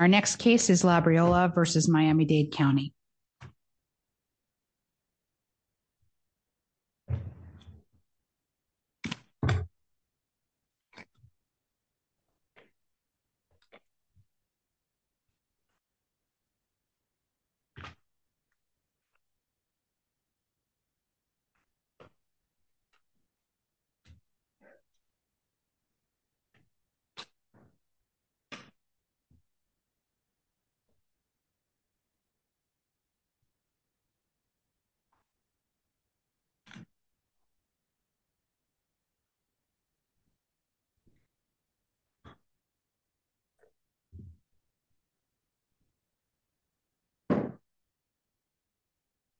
Our next case is Labriola v. Miami-Dade County.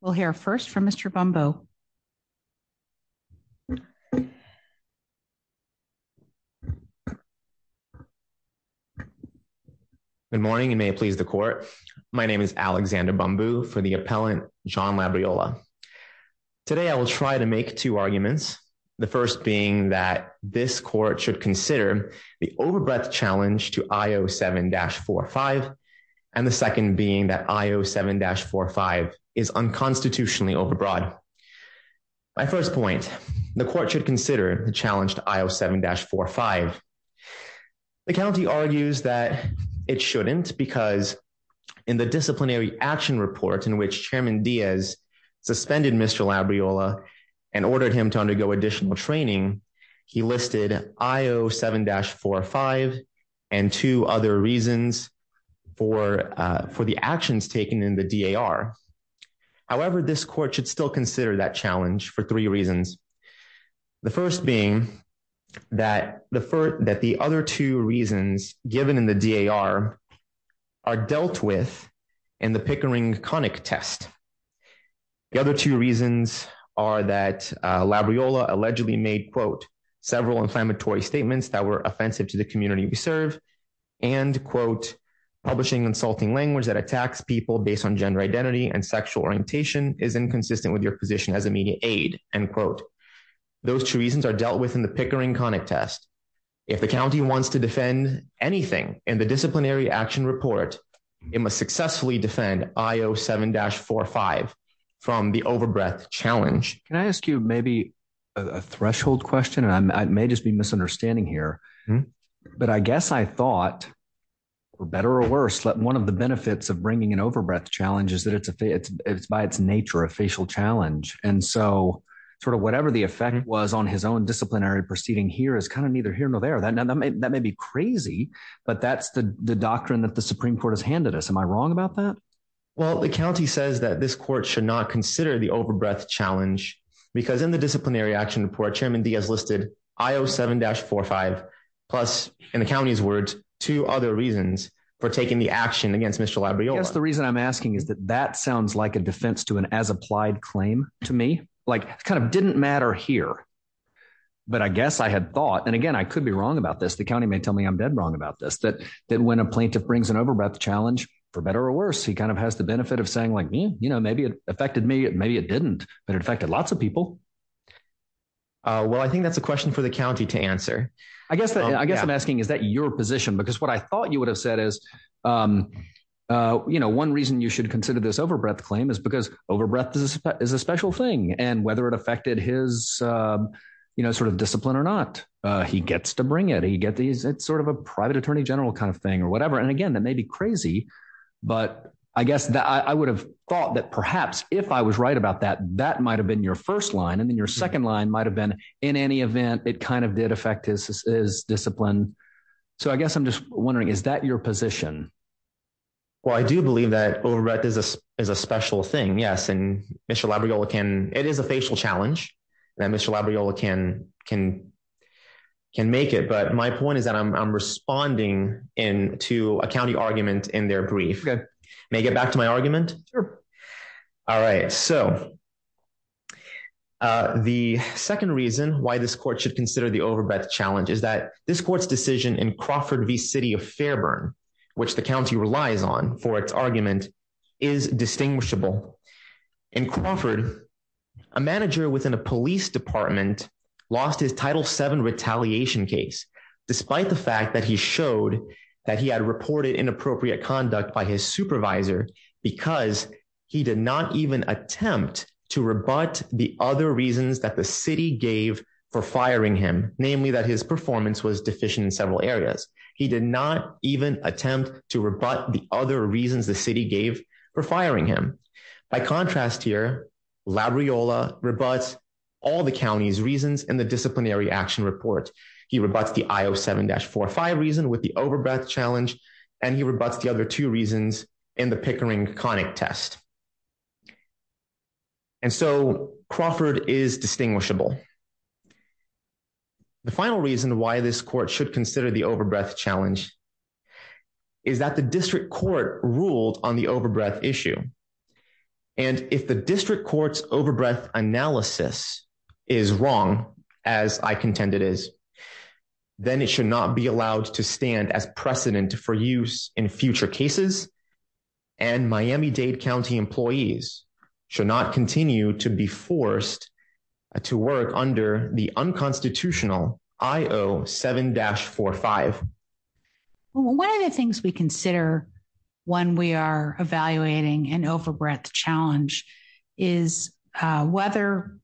We'll hear first from Mr. Bumbo. Good morning and may it please the court. My name is Alexander Bumbo for the appellant John Labriola. Today I will try to make two arguments. The first being that this court should consider the overbreath challenge to I-07-45 and the second being that I-07-45 is unconstitutionally overbroad. My first point, the court should consider the challenge to I-07-45. The county argues that it shouldn't because in the disciplinary action report in which Chairman Diaz suspended Mr. Labriola and ordered him to undergo additional training, he listed in I-07-45 and two other reasons for the actions taken in the DAR. However, this court should still consider that challenge for three reasons. The first being that the other two reasons given in the DAR are dealt with in the Pickering conic test. The other two reasons are that Labriola allegedly made several inflammatory statements that were offensive to the community we serve and publishing insulting language that attacks people based on gender identity and sexual orientation is inconsistent with your position as a media aide. Those two reasons are dealt with in the Pickering conic test. If the county wants to defend anything in the disciplinary action report, it must successfully defend I-07-45 from the overbreath challenge. Can I ask you maybe a threshold question? I may just be misunderstanding here, but I guess I thought, for better or worse, that one of the benefits of bringing an overbreath challenge is that it's by its nature a facial challenge and so sort of whatever the effect was on his own disciplinary proceeding here is kind of neither here nor there. That may be crazy, but that's the doctrine that the Supreme Court has handed us. Am I wrong about that? Well, the county says that this court should not consider the overbreath challenge because in the disciplinary action report, Chairman Diaz listed I-07-45 plus in the county's words two other reasons for taking the action against Mr. Labriola. I guess the reason I'm asking is that that sounds like a defense to an as-applied claim to me. It kind of didn't matter here, but I guess I had thought, and again I could be wrong about this, the county may tell me I'm dead wrong about this, that when a plaintiff brings an overbreath challenge, for better or worse, he kind of has the benefit of saying, like me, you know, maybe it affected me, maybe it didn't, but it affected lots of people. Well, I think that's a question for the county to answer. I guess I'm asking, is that your position? Because what I thought you would have said is, you know, one reason you should consider this overbreath claim is because overbreath is a special thing, and whether it affected his sort of discipline or not, he gets to bring it, it's sort of a private attorney general kind of thing or whatever, and again, that may be crazy, but I guess I would have thought that perhaps if I was right about that, that might have been your first line and then your second line might have been, in any event, it kind of did affect his discipline. So I guess I'm just wondering, is that your position? Well, I do believe that overbreath is a special thing, yes, and Mr. Labriola can, it is a into a county argument in their brief, may I get back to my argument? Sure. All right, so the second reason why this court should consider the overbreath challenge is that this court's decision in Crawford v. City of Fairburn, which the county relies on for its argument, is distinguishable. In Crawford, a manager within a police department lost his Title VII retaliation case, despite the fact that he showed that he had reported inappropriate conduct by his supervisor, because he did not even attempt to rebut the other reasons that the city gave for firing him, namely that his performance was deficient in several areas. He did not even attempt to rebut the other reasons the city gave for firing him. By contrast here, Labriola rebuts all the county's reasons in the disciplinary action report. He rebuts the I-07-45 reason with the overbreath challenge, and he rebuts the other two reasons in the Pickering-Connick test. And so Crawford is distinguishable. The final reason why this court should consider the overbreath challenge is that the district court ruled on the overbreath issue, and if the district court's overbreath analysis is wrong, as I contend it is, then it should not be allowed to stand as precedent for use in future cases, and Miami-Dade County employees should not continue to be forced to work under the unconstitutional I-07-45. One of the things we consider when we are evaluating an overbreath challenge is whether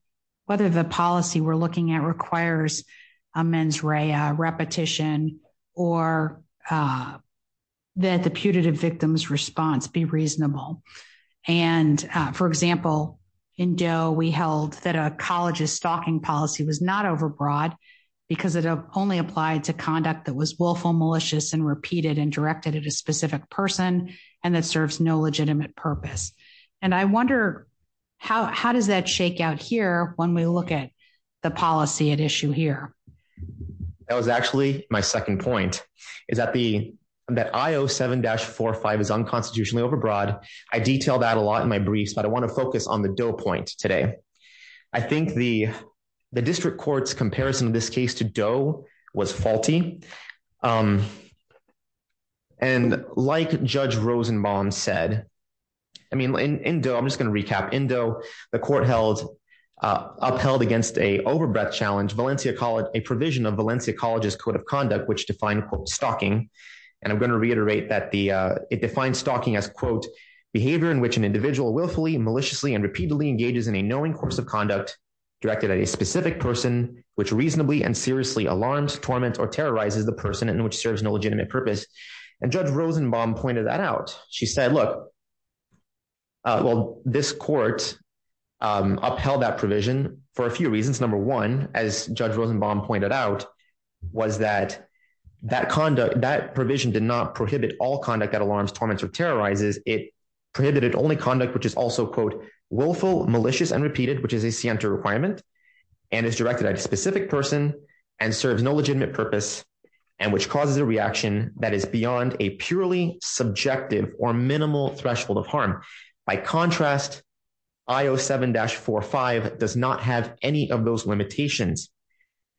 the policy we're looking at requires a mens rea repetition or that the putative victim's response be reasonable. And for example, in Doe, we held that a college's stalking policy was not overbroad because it only applied to conduct that was willful, malicious, and repeated and directed at a specific person and that serves no legitimate purpose. And I wonder, how does that shake out here when we look at the policy at issue here? That was actually my second point, is that I-07-45 is unconstitutionally overbroad. I detail that a lot in my briefs, but I want to focus on the Doe point today. I think the district court's comparison of this case to Doe was faulty. And like Judge Rosenbaum said, I mean, in Doe, I'm just going to recap, in Doe, the court upheld against an overbreath challenge a provision of Valencia College's Code of Conduct which defined, quote, stalking, and I'm going to reiterate that it defines stalking as, quote, behavior in which an individual willfully, maliciously, and repeatedly engages in a knowing course of conduct directed at a specific person which reasonably and seriously alarms, torments, or terrorizes the person and which serves no legitimate purpose. And Judge Rosenbaum pointed that out. She said, look, well, this court upheld that provision for a few reasons. Number one, as Judge Rosenbaum pointed out, was that that provision did not prohibit all conduct that alarms, torments, or terrorizes. It prohibited only conduct which is also, quote, willful, malicious, and repeated, which is a scienter requirement and is directed at a specific person and serves no legitimate purpose and which causes a reaction that is beyond a purely subjective or minimal threshold of harm. By contrast, IO 7-45 does not have any of those limitations.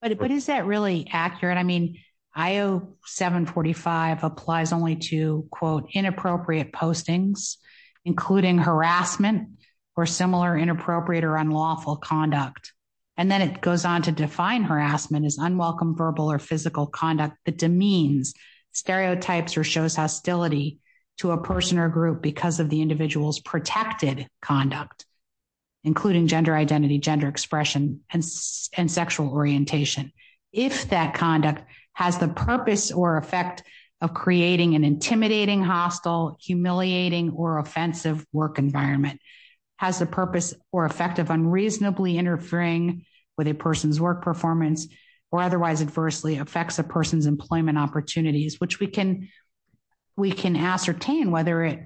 But is that really accurate? I mean, IO 7-45 applies only to, quote, inappropriate postings, including harassment or similar inappropriate or unlawful conduct. And then it goes on to define harassment as unwelcome verbal or physical conduct that demeans stereotypes or shows hostility to a person or group because of the individual's protected conduct, including gender identity, gender expression, and sexual orientation. If that conduct has the purpose or effect of creating an intimidating, hostile, humiliating, or offensive work environment, has the purpose or effect of unreasonably interfering with a person's work performance, or otherwise adversely affects a person's employment opportunities, which we can ascertain whether it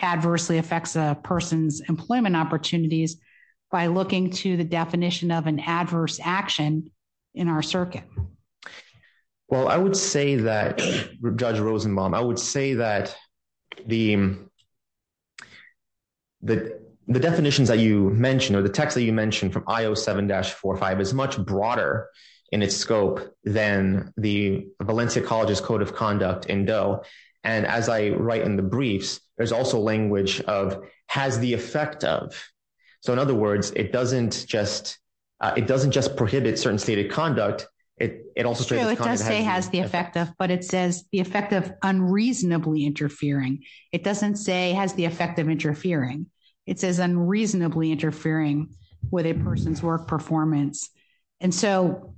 adversely affects a person's employment opportunities by looking to the definition of an adverse action in our circuit. Well, I would say that, Judge Rosenbaum, I would say that the definitions that you mentioned or the text that you mentioned from IO 7-45 is much broader in its scope than the Valencia College's Code of Conduct in Doe. And as I write in the briefs, there's also language of, has the effect of. So in other words, it doesn't just prohibit certain stated conduct, it also states that it has the effect of. But it says the effect of unreasonably interfering. It doesn't say has the effect of interfering. It says unreasonably interfering with a person's work performance. And so,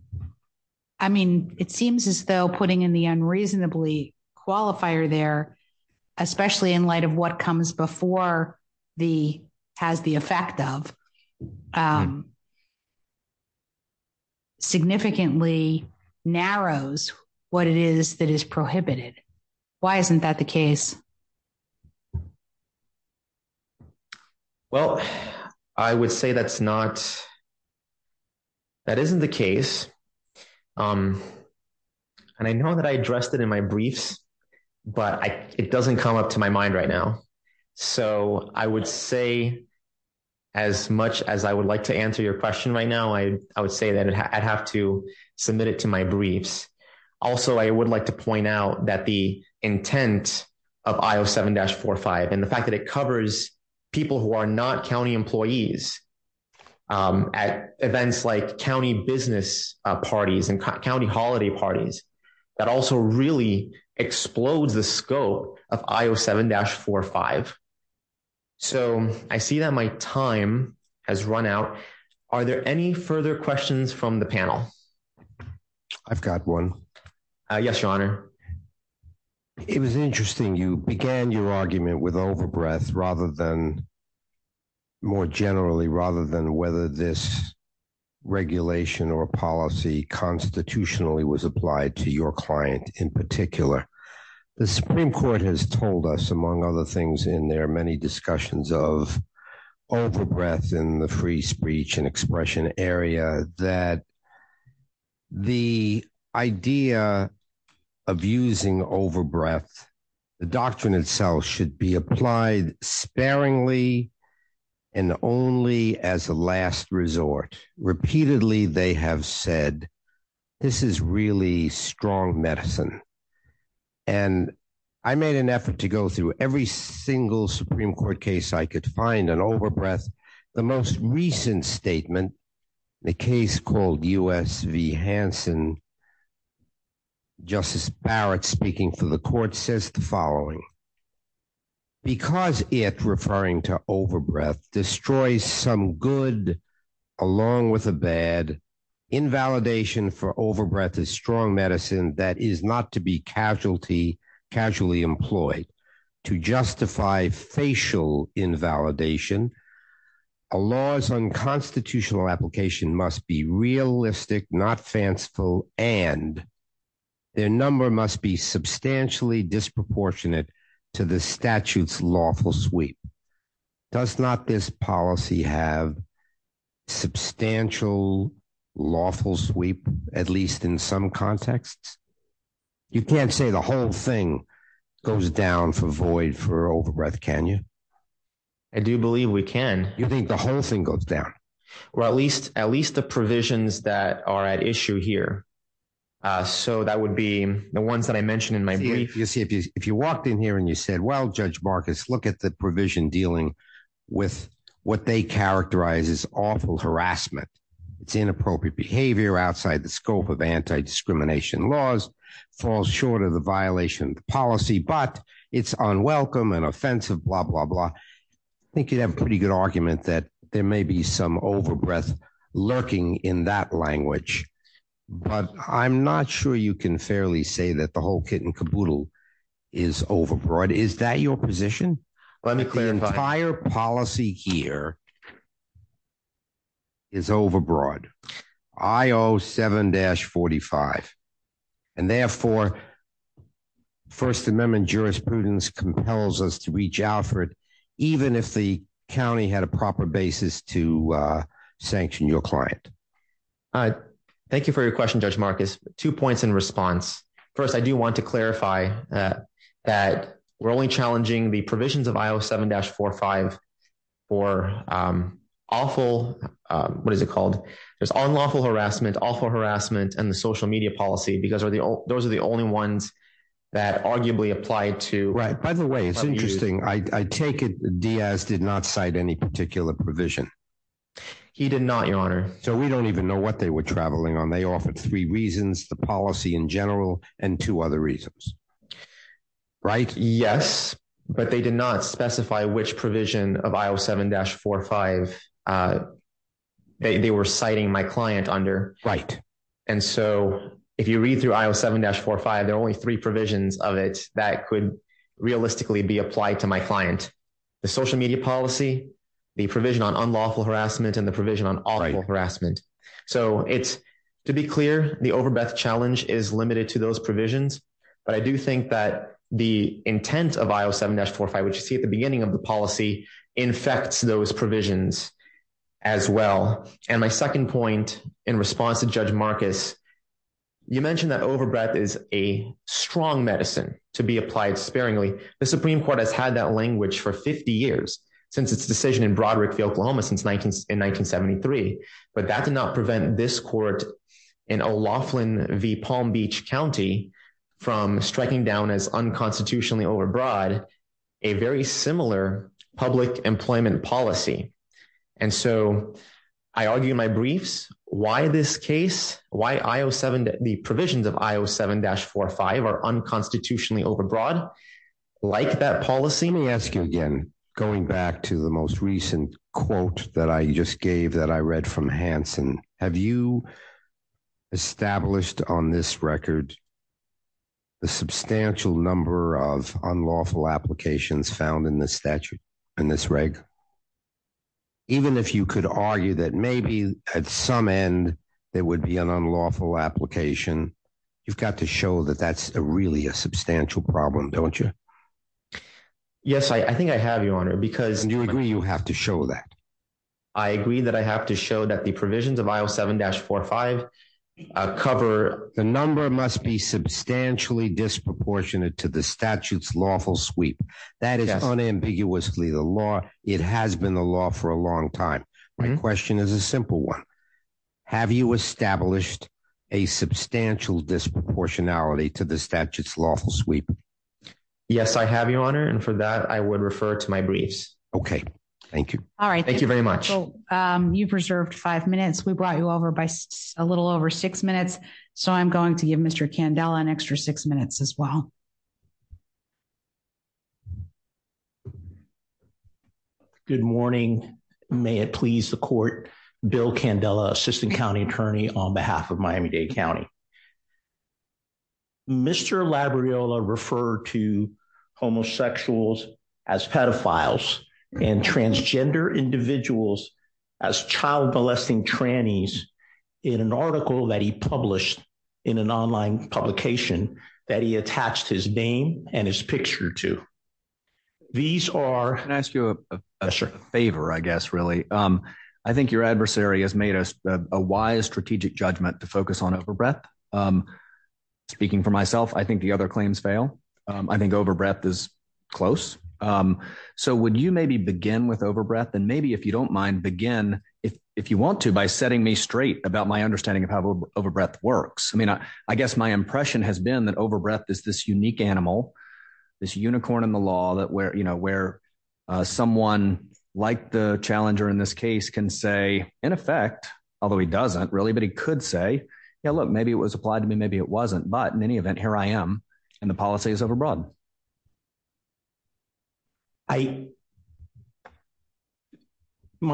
I mean, it seems as though putting in the unreasonably qualifier there, especially in light of what comes before the has the effect of, significantly narrows what it is that is prohibited. Why isn't that the case? Well, I would say that's not, that isn't the case. And I know that I addressed it in my briefs, but it doesn't come up to my mind right now. So I would say, as much as I would like to answer your question right now, I would say that I'd have to submit it to my briefs. Also, I would like to point out that the intent of I07-45 and the fact that it covers people who are not county employees at events like county business parties and county holiday parties, that also really explodes the scope of I07-45. So I see that my time has run out. Are there any further questions from the panel? I've got one. Yes, Your Honor. It was interesting, you began your argument with overbreath rather than, more generally, rather than whether this regulation or policy constitutionally was applied to your client in particular. The Supreme Court has told us, among other things, in their many discussions of overbreath in the free speech and expression area, that the idea of using overbreath, the doctrine itself should be applied sparingly and only as a last resort. Repeatedly, they have said, this is really strong medicine. And I made an effort to go through every single Supreme Court case I could find on overbreath. The most recent statement, the case called U.S. v. Hansen, Justice Barrett speaking for the court says the following, because it, referring to overbreath, destroys some good along with a bad, invalidation for overbreath is strong medicine that is not to be casually employed. To justify facial invalidation, a law's unconstitutional application must be realistic, not fanciful, and their number must be substantially disproportionate to the statute's lawful sweep. Does not this policy have substantial lawful sweep, at least in some contexts? You can't say the whole thing goes down for void for overbreath, can you? I do believe we can. You think the whole thing goes down? Well, at least the provisions that are at issue here. So that would be the ones that I mentioned in my brief. If you walked in here and you said, well, Judge Marcus, look at the provision dealing with what they characterize as awful harassment, it's inappropriate behavior outside the scope of anti-discrimination laws, falls short of the violation of the policy, but it's unwelcome and offensive, blah, blah, blah, I think you'd have a pretty good argument that there may be some overbreath lurking in that language. But I'm not sure you can fairly say that the whole kit and caboodle is overbroad. Is that your position? Let me clarify. The entire policy here is overbroad, I-07-45, and therefore, First Amendment jurisprudence compels us to reach out for it, even if the county had a proper basis to sanction your client. Thank you for your question, Judge Marcus. Two points in response. First, I do want to clarify that we're only challenging the provisions of I-07-45 for awful, what is it called, there's unlawful harassment, awful harassment, and the social media policy, because those are the only ones that arguably apply to- Right. By the way, it's interesting. I take it Diaz did not cite any particular provision. He did not, Your Honor. So we don't even know what they were traveling on. They offered three reasons, the policy in general, and two other reasons, right? Yes, but they did not specify which provision of I-07-45 they were citing my client under. And so if you read through I-07-45, there are only three provisions of it that could realistically be applied to my client. The social media policy, the provision on unlawful harassment, and the provision on sexual harassment. So it's, to be clear, the overbreath challenge is limited to those provisions, but I do think that the intent of I-07-45, which you see at the beginning of the policy, infects those provisions as well. And my second point in response to Judge Marcus, you mentioned that overbreath is a strong medicine to be applied sparingly. The Supreme Court has had that language for 50 years, since its decision in Broderick v. Oklahoma in 1973. But that did not prevent this court in O'Loughlin v. Palm Beach County from striking down as unconstitutionally overbroad a very similar public employment policy. And so I argue in my briefs why this case, why I-07, the provisions of I-07-45 are unconstitutionally overbroad like that policy. Let me ask you again, going back to the most recent quote that I just gave that I read from Hansen, have you established on this record the substantial number of unlawful applications found in this statute, in this reg? Even if you could argue that maybe at some end there would be an unlawful application, you've got to show that that's really a substantial problem, don't you? Yes, I think I have, Your Honor, because- And you agree you have to show that? I agree that I have to show that the provisions of I-07-45 cover- The number must be substantially disproportionate to the statute's lawful sweep. That is unambiguously the law. It has been the law for a long time. My question is a simple one. Have you established a substantial disproportionality to the statute's lawful sweep? Yes, I have, Your Honor, and for that I would refer to my briefs. Okay, thank you. All right. Thank you very much. You've reserved five minutes. We brought you over by a little over six minutes, so I'm going to give Mr. Candela an extra six minutes as well. Good morning. May it please the court, Bill Candela, Assistant County Attorney on behalf of Miami-Dade County. Mr. Labriola referred to homosexuals as pedophiles and transgender individuals as child molesting trannies in an article that he published in an online publication that he attached his name and his picture to. These are- I want to ask you a favor, I guess, really. I think your adversary has made a wise strategic judgment to focus on overbreath. Speaking for myself, I think the other claims fail. I think overbreath is close. So would you maybe begin with overbreath, and maybe, if you don't mind, begin, if you want to, by setting me straight about my understanding of how overbreath works. I mean, I guess my impression has been that overbreath is this unique animal, this unicorn in the law, where someone like the challenger in this case can say, in effect, although he doesn't really, but he could say, yeah, look, maybe it was applied to me, maybe it wasn't. But in any event, here I am, and the policy is overbroad. My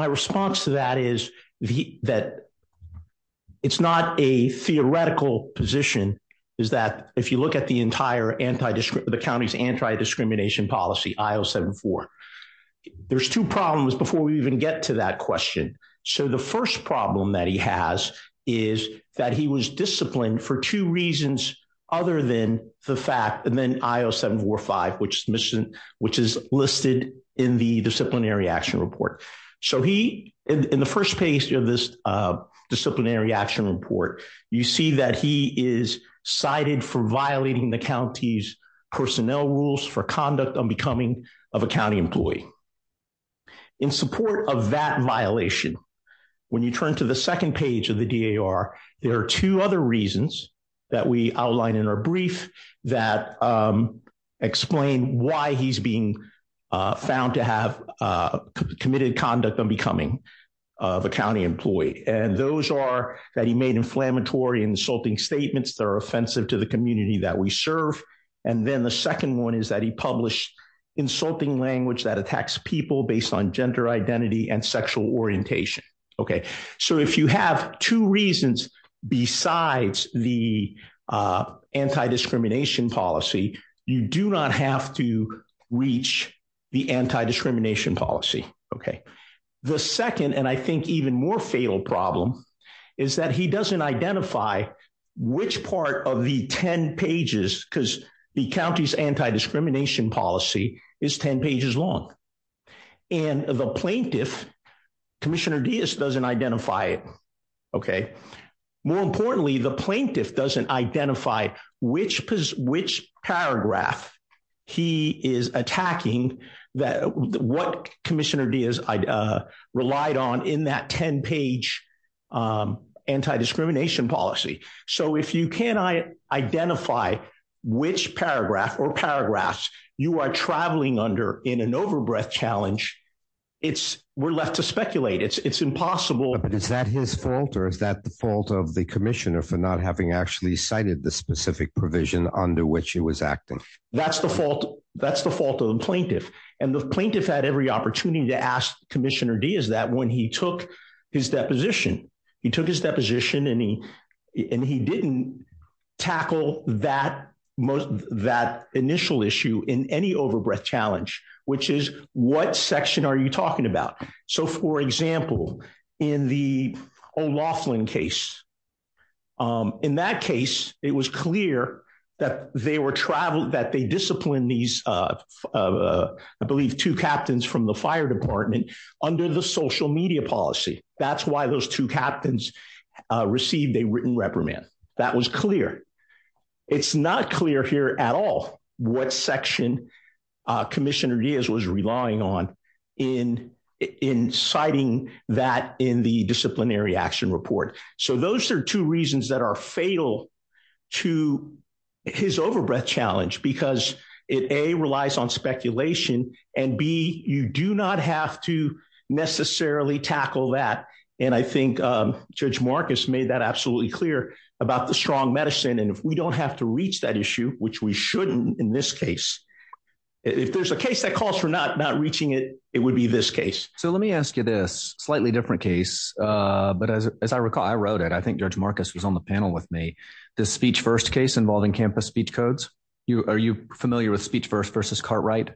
response to that is that it's not a theoretical position, is that if you look at the entire the county's anti-discrimination policy, I-074, there's two problems before we even get to that question. So the first problem that he has is that he was disciplined for two reasons other than the fact, and then I-0745, which is listed in the disciplinary action report. So he, in the first page of this disciplinary action report, you see that he is cited for violating the county's personnel rules for conduct unbecoming of a county employee. In support of that violation, when you turn to the second page of the DAR, there are two other reasons that we outline in our brief that explain why he's being found to have committed conduct unbecoming of a county employee, and those are that he made inflammatory and insulting statements that are offensive to the community that we serve. And then the second one is that he published insulting language that attacks people based on gender identity and sexual orientation. So if you have two reasons besides the anti-discrimination policy, you do not have to reach the anti-discrimination policy. The second, and I think even more fatal problem, is that he doesn't identify which part of the 10 pages, because the county's anti-discrimination policy is 10 pages long, and the plaintiff, Commissioner Diaz, doesn't identify it. More importantly, the plaintiff doesn't identify which paragraph he is attacking, what Commissioner Diaz relied on in that 10-page anti-discrimination policy. So if you can't identify which paragraph or paragraphs you are traveling under in an overbreath challenge, we're left to speculate. It's impossible. But is that his fault, or is that the fault of the commissioner for not having actually cited the specific provision under which he was acting? That's the fault of the plaintiff, and the plaintiff had every opportunity to ask Commissioner Diaz that when he took his deposition. He took his deposition, and he didn't tackle that initial issue in any overbreath challenge, which is, what section are you talking about? So for example, in the O'Loughlin case, in that case, it was clear that they were traveled, that they disciplined these, I believe, two captains from the fire department under the social media policy. That's why those two captains received a written reprimand. That was clear. It's not clear here at all what section Commissioner Diaz was relying on in citing that in the disciplinary action report. So those are two reasons that are fatal to his overbreath challenge, because it, A, relies on speculation, and B, you do not have to necessarily tackle that. And I think Judge Marcus made that absolutely clear about the strong medicine, and if we don't have to reach that issue, which we shouldn't in this case, if there's a case that calls for not reaching it, it would be this case. So let me ask you this, slightly different case, but as I recall, I wrote it, I think Judge Marcus was on the panel with me, the Speech First case involving Campus Speech Codes. Are you familiar with Speech First versus Cartwright?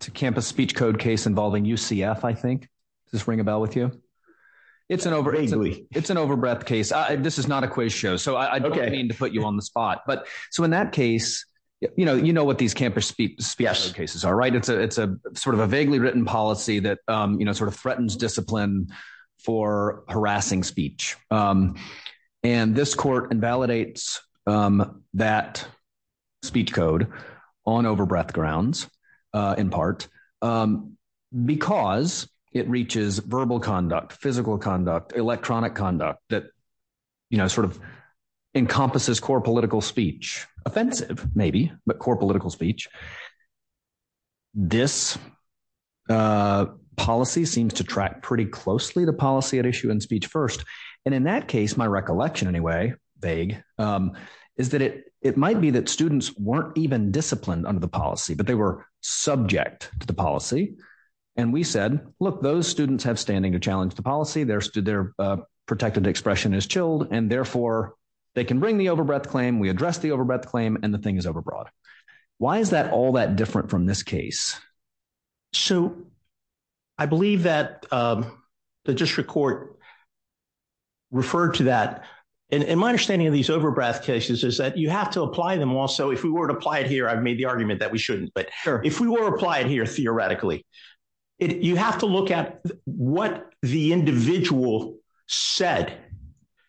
It's a Campus Speech Code case involving UCF, I think. Does this ring a bell with you? It's an overbreath case. This is not a quiz show, so I don't mean to put you on the spot. So in that case, you know what these Campus Speech Code cases are, right? It's a vaguely written policy that threatens discipline for harassing speech. And this court invalidates that speech code on overbreath grounds, in part, because it reaches verbal conduct, physical conduct, electronic conduct that sort of encompasses core political speech. Offensive, maybe, but core political speech. This policy seems to track pretty closely to policy at issue in Speech First. And in that case, my recollection anyway, vague, is that it might be that students weren't even disciplined under the policy, but they were subject to the policy. And we said, look, those students have standing to challenge the policy, their protected expression is chilled, and therefore, they can bring the overbreath claim, we address the overbreath claim, and the thing is overbroad. Why is that all that different from this case? So I believe that the district court referred to that, and my understanding of these overbreath cases is that you have to apply them also, if we were to apply it here, I've made the argument that we shouldn't, but if we were to apply it here, theoretically, you have to look at what the individual said.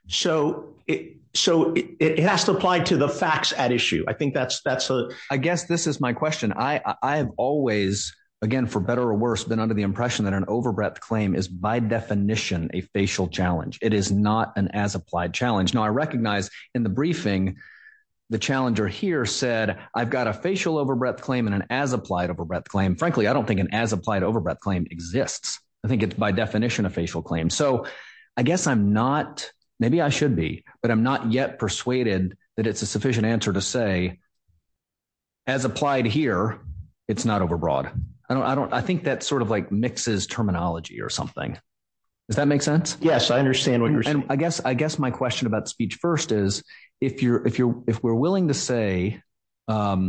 So it has to apply to the facts at issue. I think that's a- I guess this is my question. I have always, again, for better or worse, been under the impression that an overbreath claim is by definition a facial challenge. It is not an as-applied challenge. Now, I recognize in the briefing, the challenger here said, I've got a facial overbreath claim and an as-applied overbreath claim. Frankly, I don't think an as-applied overbreath claim exists. I think it's by definition a facial claim. So I guess I'm not, maybe I should be, but I'm not yet persuaded that it's a sufficient answer to say, as applied here, it's not overbroad. I think that sort of like mixes terminology or something. Does that make sense? Yes, I understand what you're saying. I guess my question about speech first is, if we're willing to say that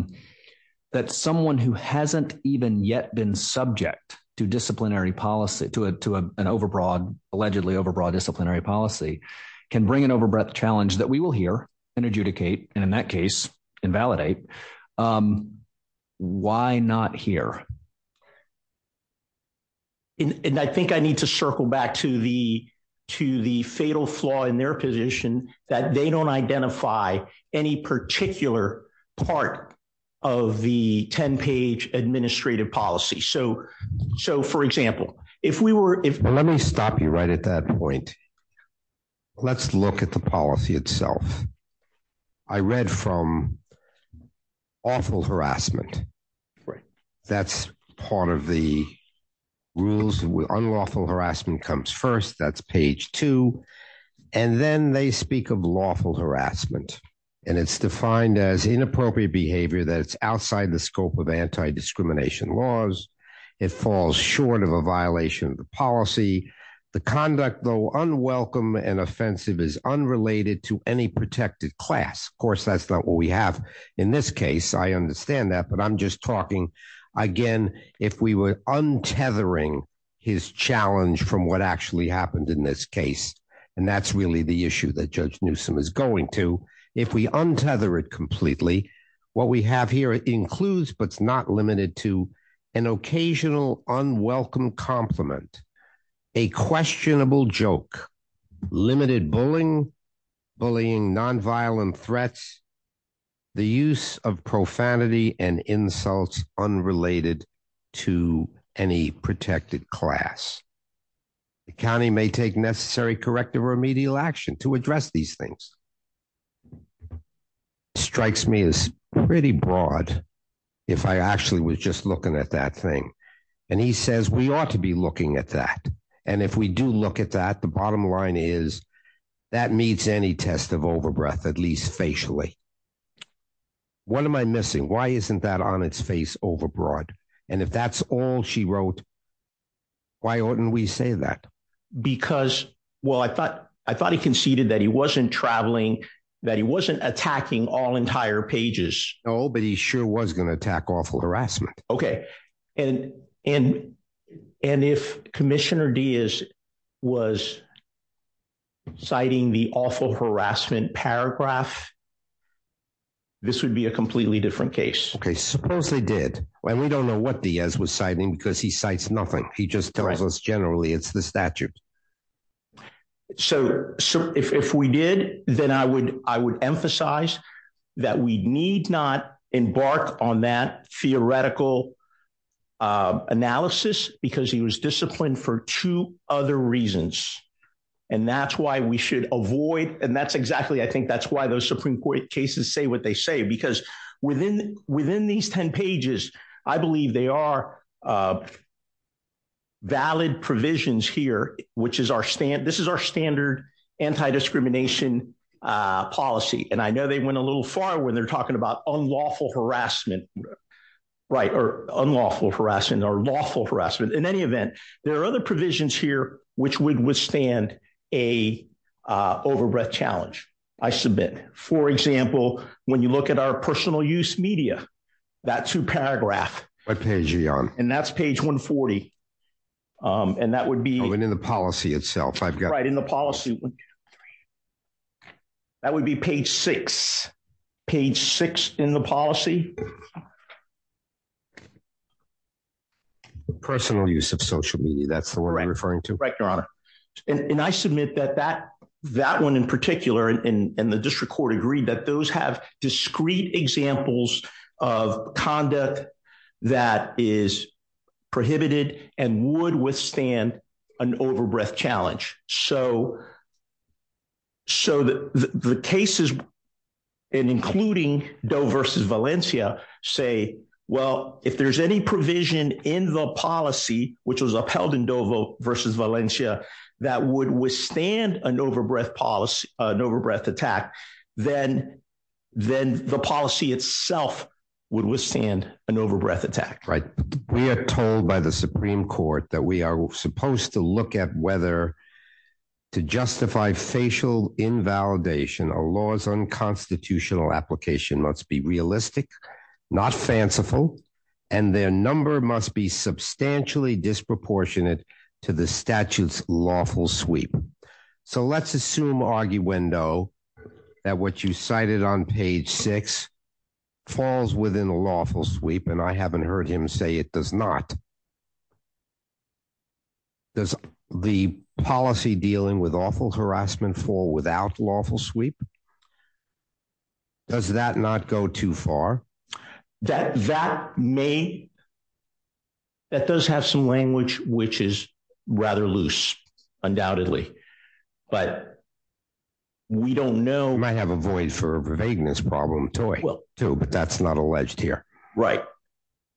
someone who hasn't even yet been subject to disciplinary policy, to an overbroad, allegedly overbroad disciplinary policy, can bring an overbreath challenge that we will hear and adjudicate. And in that case, invalidate. Why not here? And I think I need to circle back to the fatal flaw in their position that they don't identify any particular part of the 10-page administrative policy. So, for example, if we were, if- Let me stop you right at that point. Let's look at the policy itself. I read from awful harassment. That's part of the rules. Unlawful harassment comes first. That's page two. And then they speak of lawful harassment. And it's defined as inappropriate behavior that's outside the scope of anti-discrimination laws. It falls short of a violation of the policy. The conduct, though unwelcome and offensive, is unrelated to any protected class. Of course, that's not what we have in this case. I understand that. But I'm just talking, again, if we were untethering his challenge from what actually happened in this case. And that's really the issue that Judge Newsom is going to. If we untether it completely, what we have here includes, but it's not limited to, an occasional unwelcome compliment, a questionable joke, limited bullying, nonviolent threats, the use of profanity and insults unrelated to any protected class. The county may take necessary corrective or remedial action to address these things. It strikes me as pretty broad if I actually was just looking at that thing. And he says we ought to be looking at that. And if we do look at that, the bottom line is that meets any test of overbreath, at least facially. What am I missing? Why isn't that on its face overbroad? And if that's all she wrote, why oughtn't we say that? Because, well, I thought he conceded that he wasn't traveling, that he wasn't attacking all entire pages. No, but he sure was going to attack awful harassment. OK, and if Commissioner Diaz was citing the awful harassment paragraph, this would be a completely different case. OK, suppose they did. And we don't know what Diaz was citing because he cites nothing. He just tells us generally it's the statute. So if we did, then I would I would emphasize that we need not embark on that theoretical analysis because he was disciplined for two other reasons. And that's why we should avoid. And that's exactly I think that's why those Supreme Court cases say what they say, because within these 10 pages, I believe they are valid provisions here, which is our stand. This is our standard anti-discrimination policy. And I know they went a little far when they're talking about unlawful harassment, right, or unlawful harassment or lawful harassment. In any event, there are other provisions here which would withstand a overbreath challenge. I submit, for example, when you look at our personal use media, that two paragraph. What page are you on? And that's page 140. And that would be in the policy itself. I've got right in the policy. That would be page six, page six in the policy. Personal use of social media. That's the word I'm referring to. And I submit that that that one in particular and the district court agreed that those have discrete examples of conduct that is prohibited and would withstand an overbreath challenge. So the cases, including Doe versus Valencia, say, well, if there's any provision in the policy, which was upheld in Doe versus Valencia, that would withstand an overbreath policy, an overbreath attack, then then the policy itself would withstand an overbreath attack. Right. We are told by the Supreme Court that we are supposed to look at whether to justify facial invalidation, a law's unconstitutional application must be realistic, not fanciful, and their number must be substantially disproportionate to the statute's lawful sweep. So let's assume, arguendo, that what you cited on page six falls within a lawful sweep. And I haven't heard him say it does not. Does the policy dealing with awful harassment fall without lawful sweep? Does that not go too far? That that may. That does have some language, which is rather loose, undoubtedly. But we don't know. We might have a void for vagueness problem too, but that's not alleged here. Right.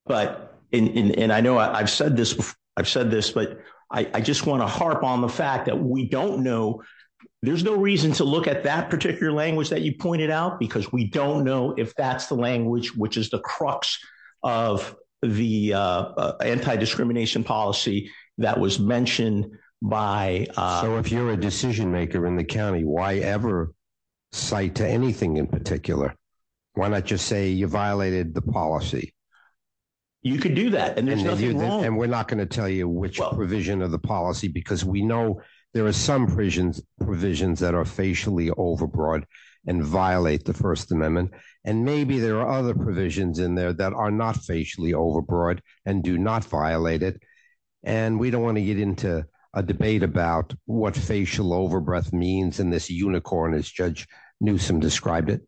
But and I know I've said this, I've said this, but I just want to harp on the fact that we don't know. There's no reason to look at that particular language that you pointed out, because we don't know if that's the language which is the crux of the anti-discrimination policy that was mentioned by. So if you're a decision maker in the county, why ever cite to anything in particular? Why not just say you violated the policy? You could do that and there's nothing wrong. And we're not going to tell you which provision of the policy, because we know there are some prisons provisions that are facially overbroad and violate the First Amendment. And maybe there are other provisions in there that are not facially overbroad and do not violate it. And we don't want to get into a debate about what facial overbreath means in this unicorn, as Judge Newsome described it.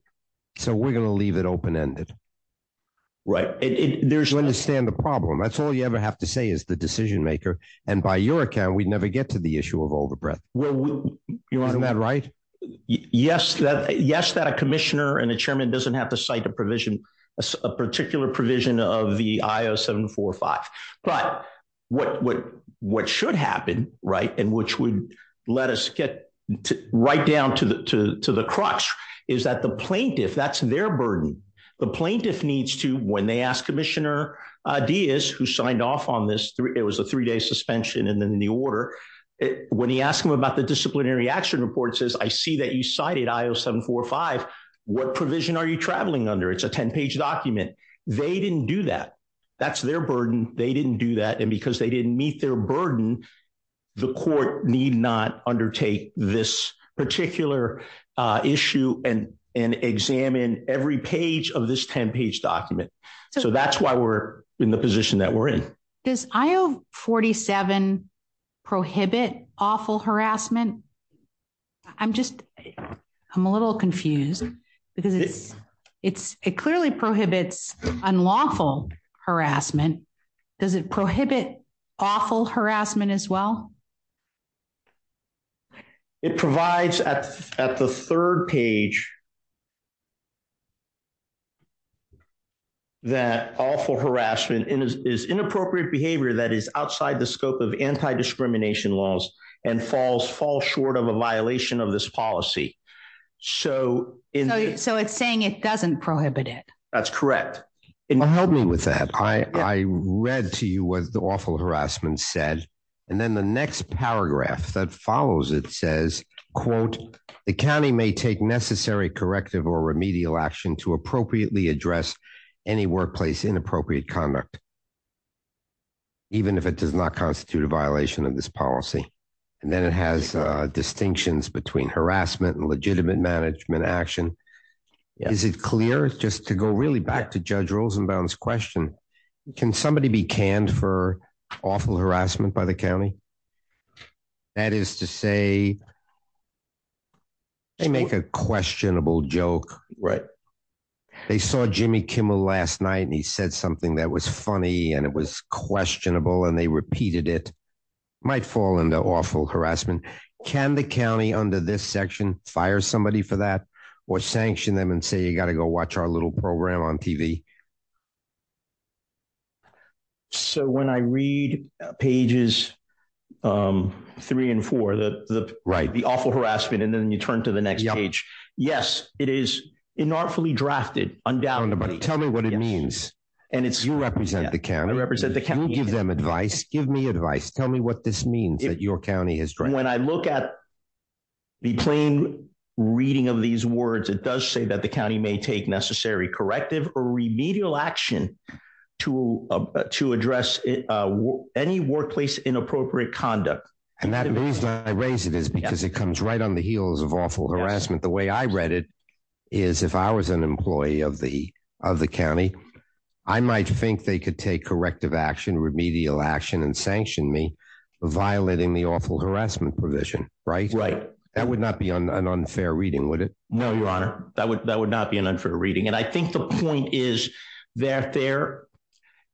So we're going to leave it open ended. Right. There's understand the problem. That's all you ever have to say is the decision maker. And by your account, we'd never get to the issue of overbreath. Well, isn't that right? Yes. Yes, that a commissioner and the chairman doesn't have to cite a provision, a particular provision of the I-0745. But what should happen, right, and which would let us get right down to the crux is that the plaintiff, that's their burden. The plaintiff needs to, when they ask Commissioner Diaz, who signed off on this, it was a three day suspension. And then the order, when he asked him about the disciplinary action report says, I see that you cited I-0745, what provision are you traveling under? It's a 10 page document. They didn't do that. That's their burden. They didn't do that. And because they didn't meet their burden, the court need not undertake this particular issue and examine every page of this 10 page document. So that's why we're in the position that we're in. Does I-0747 prohibit awful harassment? I'm just, I'm a little confused because it clearly prohibits unlawful harassment. Does it prohibit awful harassment as well? It provides at the third page that awful harassment is inappropriate behavior that is outside the scope of anti-discrimination laws and falls short of a violation of this policy. So it's saying it doesn't prohibit it. That's correct. Well, help me with that. I read to you what the awful harassment said. And then the next paragraph that follows it says, quote, the county may take necessary corrective or remedial action to appropriately address any workplace inappropriate conduct, even if it does not constitute a violation of this policy. And then it has distinctions between harassment and legitimate management action. Is it clear just to go really back to Judge Rosenbaum's question, can somebody be canned for awful harassment by the county? That is to say, they make a questionable joke. They saw Jimmy Kimmel last night and he said something that was funny and it was questionable and they repeated it. Might fall into awful harassment. Can the county under this section fire somebody for that or sanction them and say, you got to go watch our little program on TV? So when I read pages three and four, the awful harassment, and then you turn to the next page. Yes, it is inartfully drafted, undoubtedly. Tell me what it means. And you represent the county. I represent the county. You give them advice. Give me advice. Tell me what this means that your county has drafted. When I look at the plain reading of these words, it does say that the county may take necessary corrective or remedial action to to address any workplace inappropriate conduct. And that means I raise it is because it comes right on the heels of awful harassment. The way I read it is if I was an employee of the of the county, I might think they could take corrective action, remedial action and sanction me violating the awful harassment provision. Right, right. That would not be an unfair reading, would it? No, your honor. That would that would not be an unfair reading. And I think the point is that there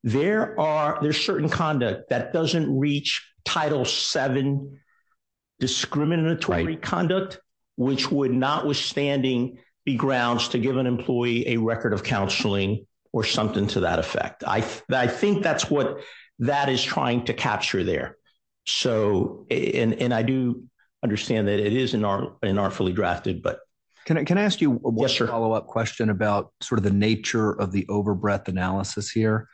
there are there's certain conduct that doesn't reach Title seven discriminatory conduct, which would notwithstanding be grounds to give an employee a record of counseling or something to that effect. I think that's what that is trying to capture there. So and I do understand that it is in our inartfully drafted. But can I can I ask you a follow up question about sort of the nature of the overbreadth analysis here?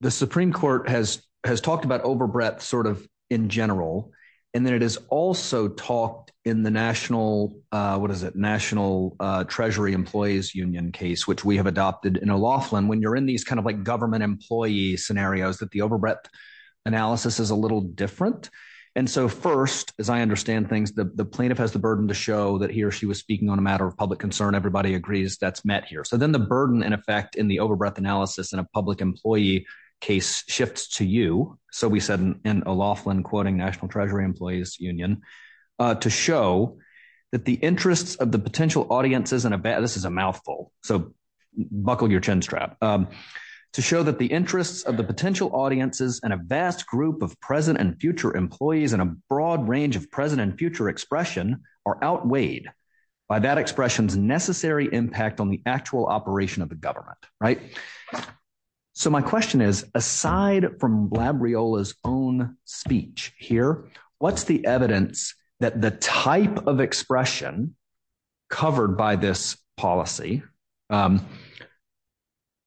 The Supreme Court has has talked about overbreadth sort of in general, and then it is also talked in the national what is it? National Treasury Employees Union case, which we have adopted in a lawful and when you're in these kind of like government employee scenarios that the overbreadth analysis is a little different. And so first, as I understand things, the plaintiff has the burden to show that he or she was speaking on a matter of public concern. Everybody agrees that's met here. So then the burden, in effect, in the overbreadth analysis and a public employee case shifts to you. So we said in a lawful and quoting National Treasury Employees Union to show that the interests of the potential audiences and this is a mouthful. So buckle your chin strap to show that the interests of the potential audiences and a vast group of present and future employees and a broad range of present and future expression are outweighed by that expression's necessary impact on the actual operation of the government, right? So my question is, aside from Labriola's own speech here, what's the evidence that the type of expression covered by this policy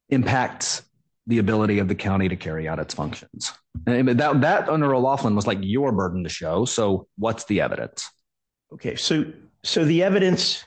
impacts the ability of the county to carry out its functions? That, under O'Loughlin, was like your burden to show. So what's the evidence? Okay, so the evidence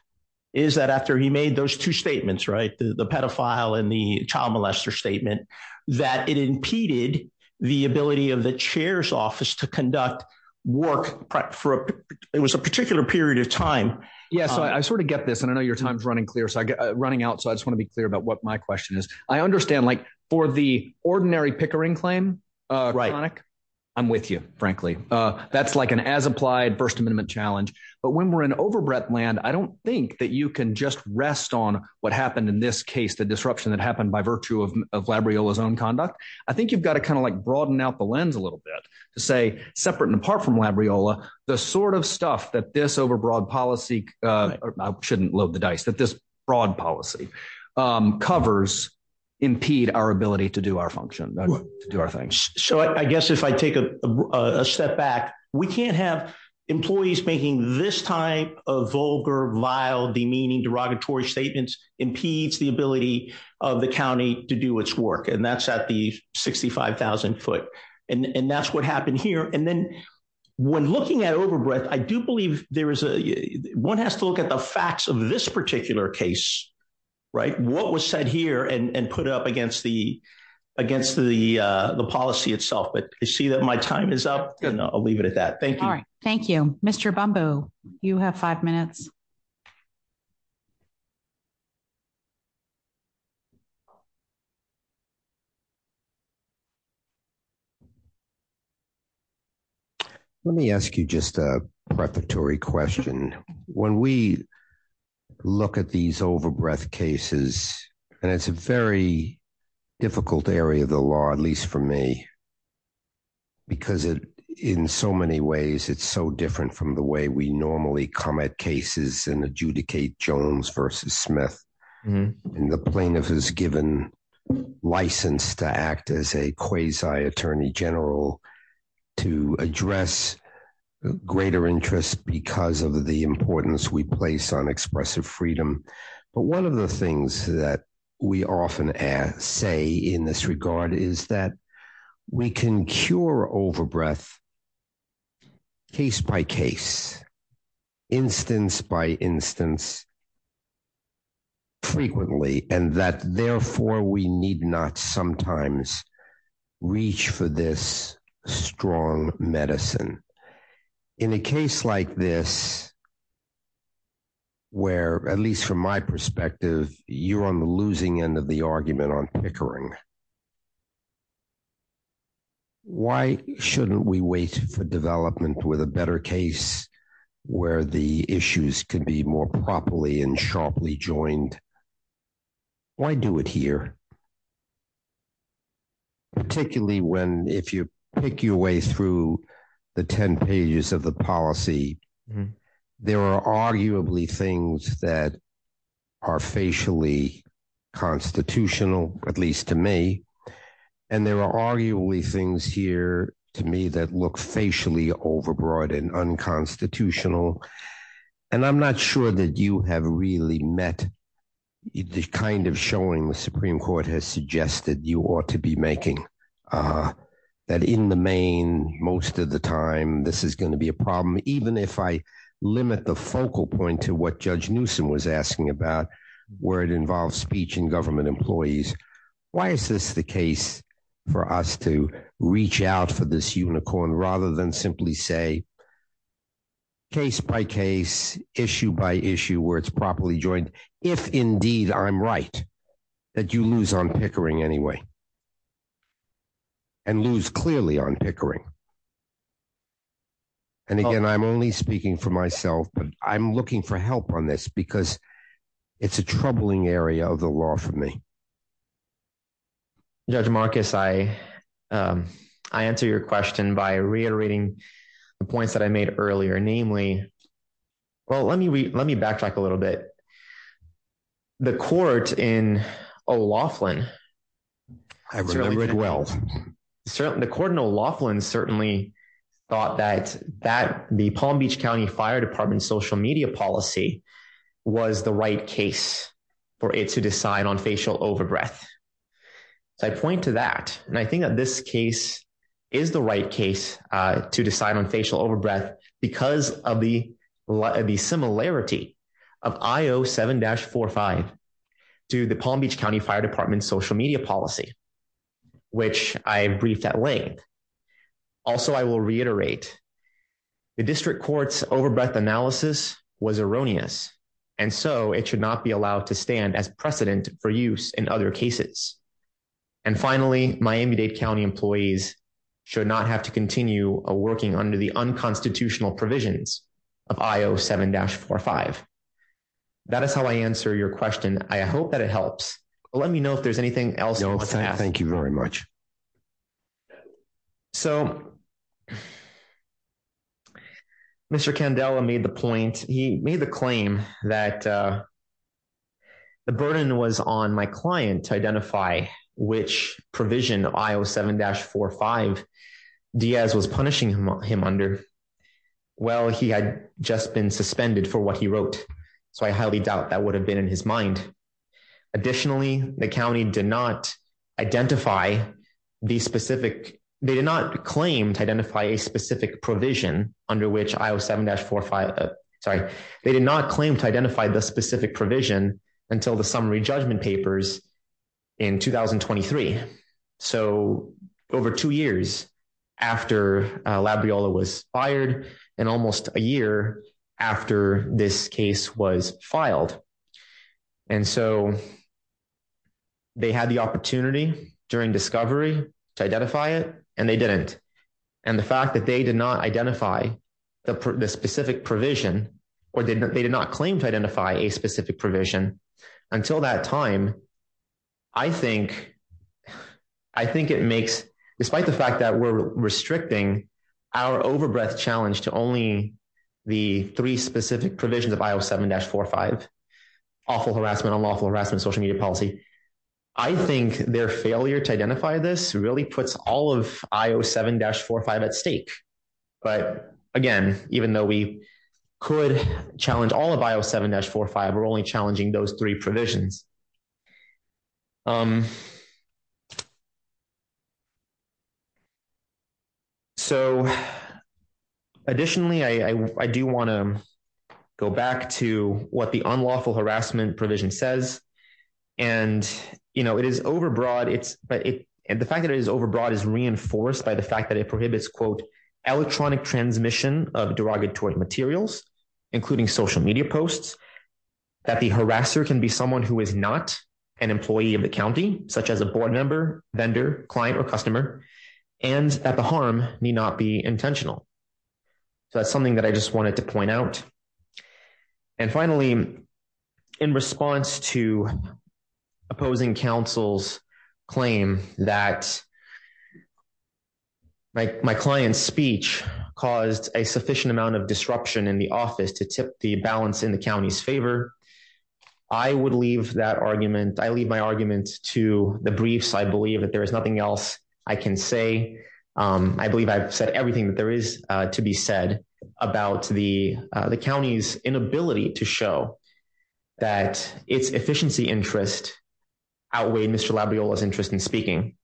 is that after he made those two statements, right, the pedophile and the child molester statement, that it impeded the ability of the chair's office to conduct work for it was a particular period of time. Yeah, so I sort of get this, and I know your time's running clear, so I get running out. So I just want to be clear about what my question is. I understand, like, for the ordinary pickering claim, I'm with you, frankly. That's like an as-applied First Amendment challenge. But when we're in overbred land, I don't think that you can just rest on what happened in this case, the disruption that happened by virtue of Labriola's own conduct. I think you've got to kind of like broaden out the lens a little bit to say, separate and apart from Labriola, the sort of stuff that this overbroad policy, I shouldn't load the dice, that this broad policy covers, impede our ability to do our function, to do our thing. So I guess if I take a step back, we can't have employees making this type of vulgar, vile, demeaning, derogatory statements impedes the ability of the county to do its work. And that's at the 65,000 foot. And that's what happened here. And then when looking at overbred, I do believe there is a, one has to look at the facts of this particular case, right? What was said here and put up against the policy itself. But I see that my time is up. And I'll leave it at that. Thank you. Thank you. Mr. Bumboo, you have five minutes. Let me ask you just a preparatory question. When we look at these overbred cases, and it's a very difficult area of the law, at least for me, because in so many ways, it's so different from the way we normally come at cases and adjudicate Jones versus Smith. And the plaintiff is given license to act as a quasi attorney general to address greater interest because of the importance we place on expressive freedom. But one of the things that we often say in this regard is that we can cure overbred case by case, instance by instance frequently. And that therefore we need not sometimes reach for this strong medicine. In a case like this, where at least from my perspective, you're on the losing end of the argument on pickering. Why shouldn't we wait for development with a better case where the issues can be more properly and sharply joined? Why do it here? Particularly when if you pick your way through the 10 pages of the policy, there are arguably things that are facially constitutional, at least to me. And there are arguably things here to me that look facially overbroad and unconstitutional. And I'm not sure that you have really met the kind of showing the Supreme Court has suggested you ought to be making that in the main most of the time, this is going to be a problem. Even if I limit the focal point to what Judge Newsom was asking about, where it involves speech and government employees. Why is this the case for us to reach out for this unicorn rather than simply say case by case, issue by issue where it's properly joined? If indeed I'm right, that you lose on pickering anyway. And lose clearly on pickering. And again, I'm only speaking for myself, but I'm looking for help on this because it's a troubling area of the law for me. Judge Marcus, I answer your question by reiterating the points that I made earlier, namely, well, let me backtrack a little bit. The court in O'Loughlin. I remember it well. The court in O'Loughlin certainly thought that the Palm Beach County Fire Department social media policy was the right case for it to decide on facial overbreath. So I point to that. And I think that this case is the right case to decide on facial overbreath because of the similarity of IO7-45 to the Palm Beach County Fire Department social media policy, which I briefed at length. Also, I will reiterate, the district court's overbreath analysis was erroneous. And so it should not be allowed to stand as precedent for use in other cases. And finally, Miami-Dade County employees should not have to continue working under the unconstitutional provisions of IO7-45. That is how I answer your question. I hope that it helps. Let me know if there's anything else. No, thank you very much. So Mr. Candela made the point, he made the claim that the burden was on my client to identify which provision IO7-45 Diaz was punishing him under. Well, he had just been suspended for what he wrote. So I highly doubt that would have been in his mind. Additionally, the county did not identify the specific, they did not claim to identify a specific provision under which IO7-45, sorry, they did not claim to identify the specific provision until the summary judgment papers in 2023. So over two years after Labriola was fired and almost a year after this case was filed. And so they had the opportunity during discovery to identify it and they didn't. And the fact that they did not identify the specific provision or they did not claim to identify a specific provision until that time, I think it makes, despite the fact that we're restricting our overbreath challenge to only the three specific provisions of IO7-45, awful harassment, unlawful harassment, social media policy. I think their failure to identify this really puts all of IO7-45 at stake. But again, even though we could challenge all of IO7-45, we're only challenging those three provisions. So additionally, I do wanna go back to what the unlawful harassment provision says. And it is overbroad, the fact that it is overbroad is reinforced by the fact that it prohibits, quote, electronic transmission of derogatory materials, including social media posts. That the harasser can be someone who is not an employee of the county, such as a board member, vendor, client, or customer, and that the harm need not be intentional. So that's something that I just wanted to point out. And finally, in response to opposing council's claim that my client's speech caused a sufficient amount of disruption in the office to tip the balance in the county's favor, I would leave that argument, I leave my argument to the briefs. I believe that there is nothing else I can say. I believe I've said everything that there is to be said about the county's inability to show that its efficiency interest outweighed Mr. Labriola's interest in speaking.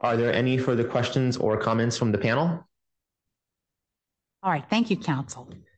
Are there any further questions or comments from the panel? All right, thank you, council.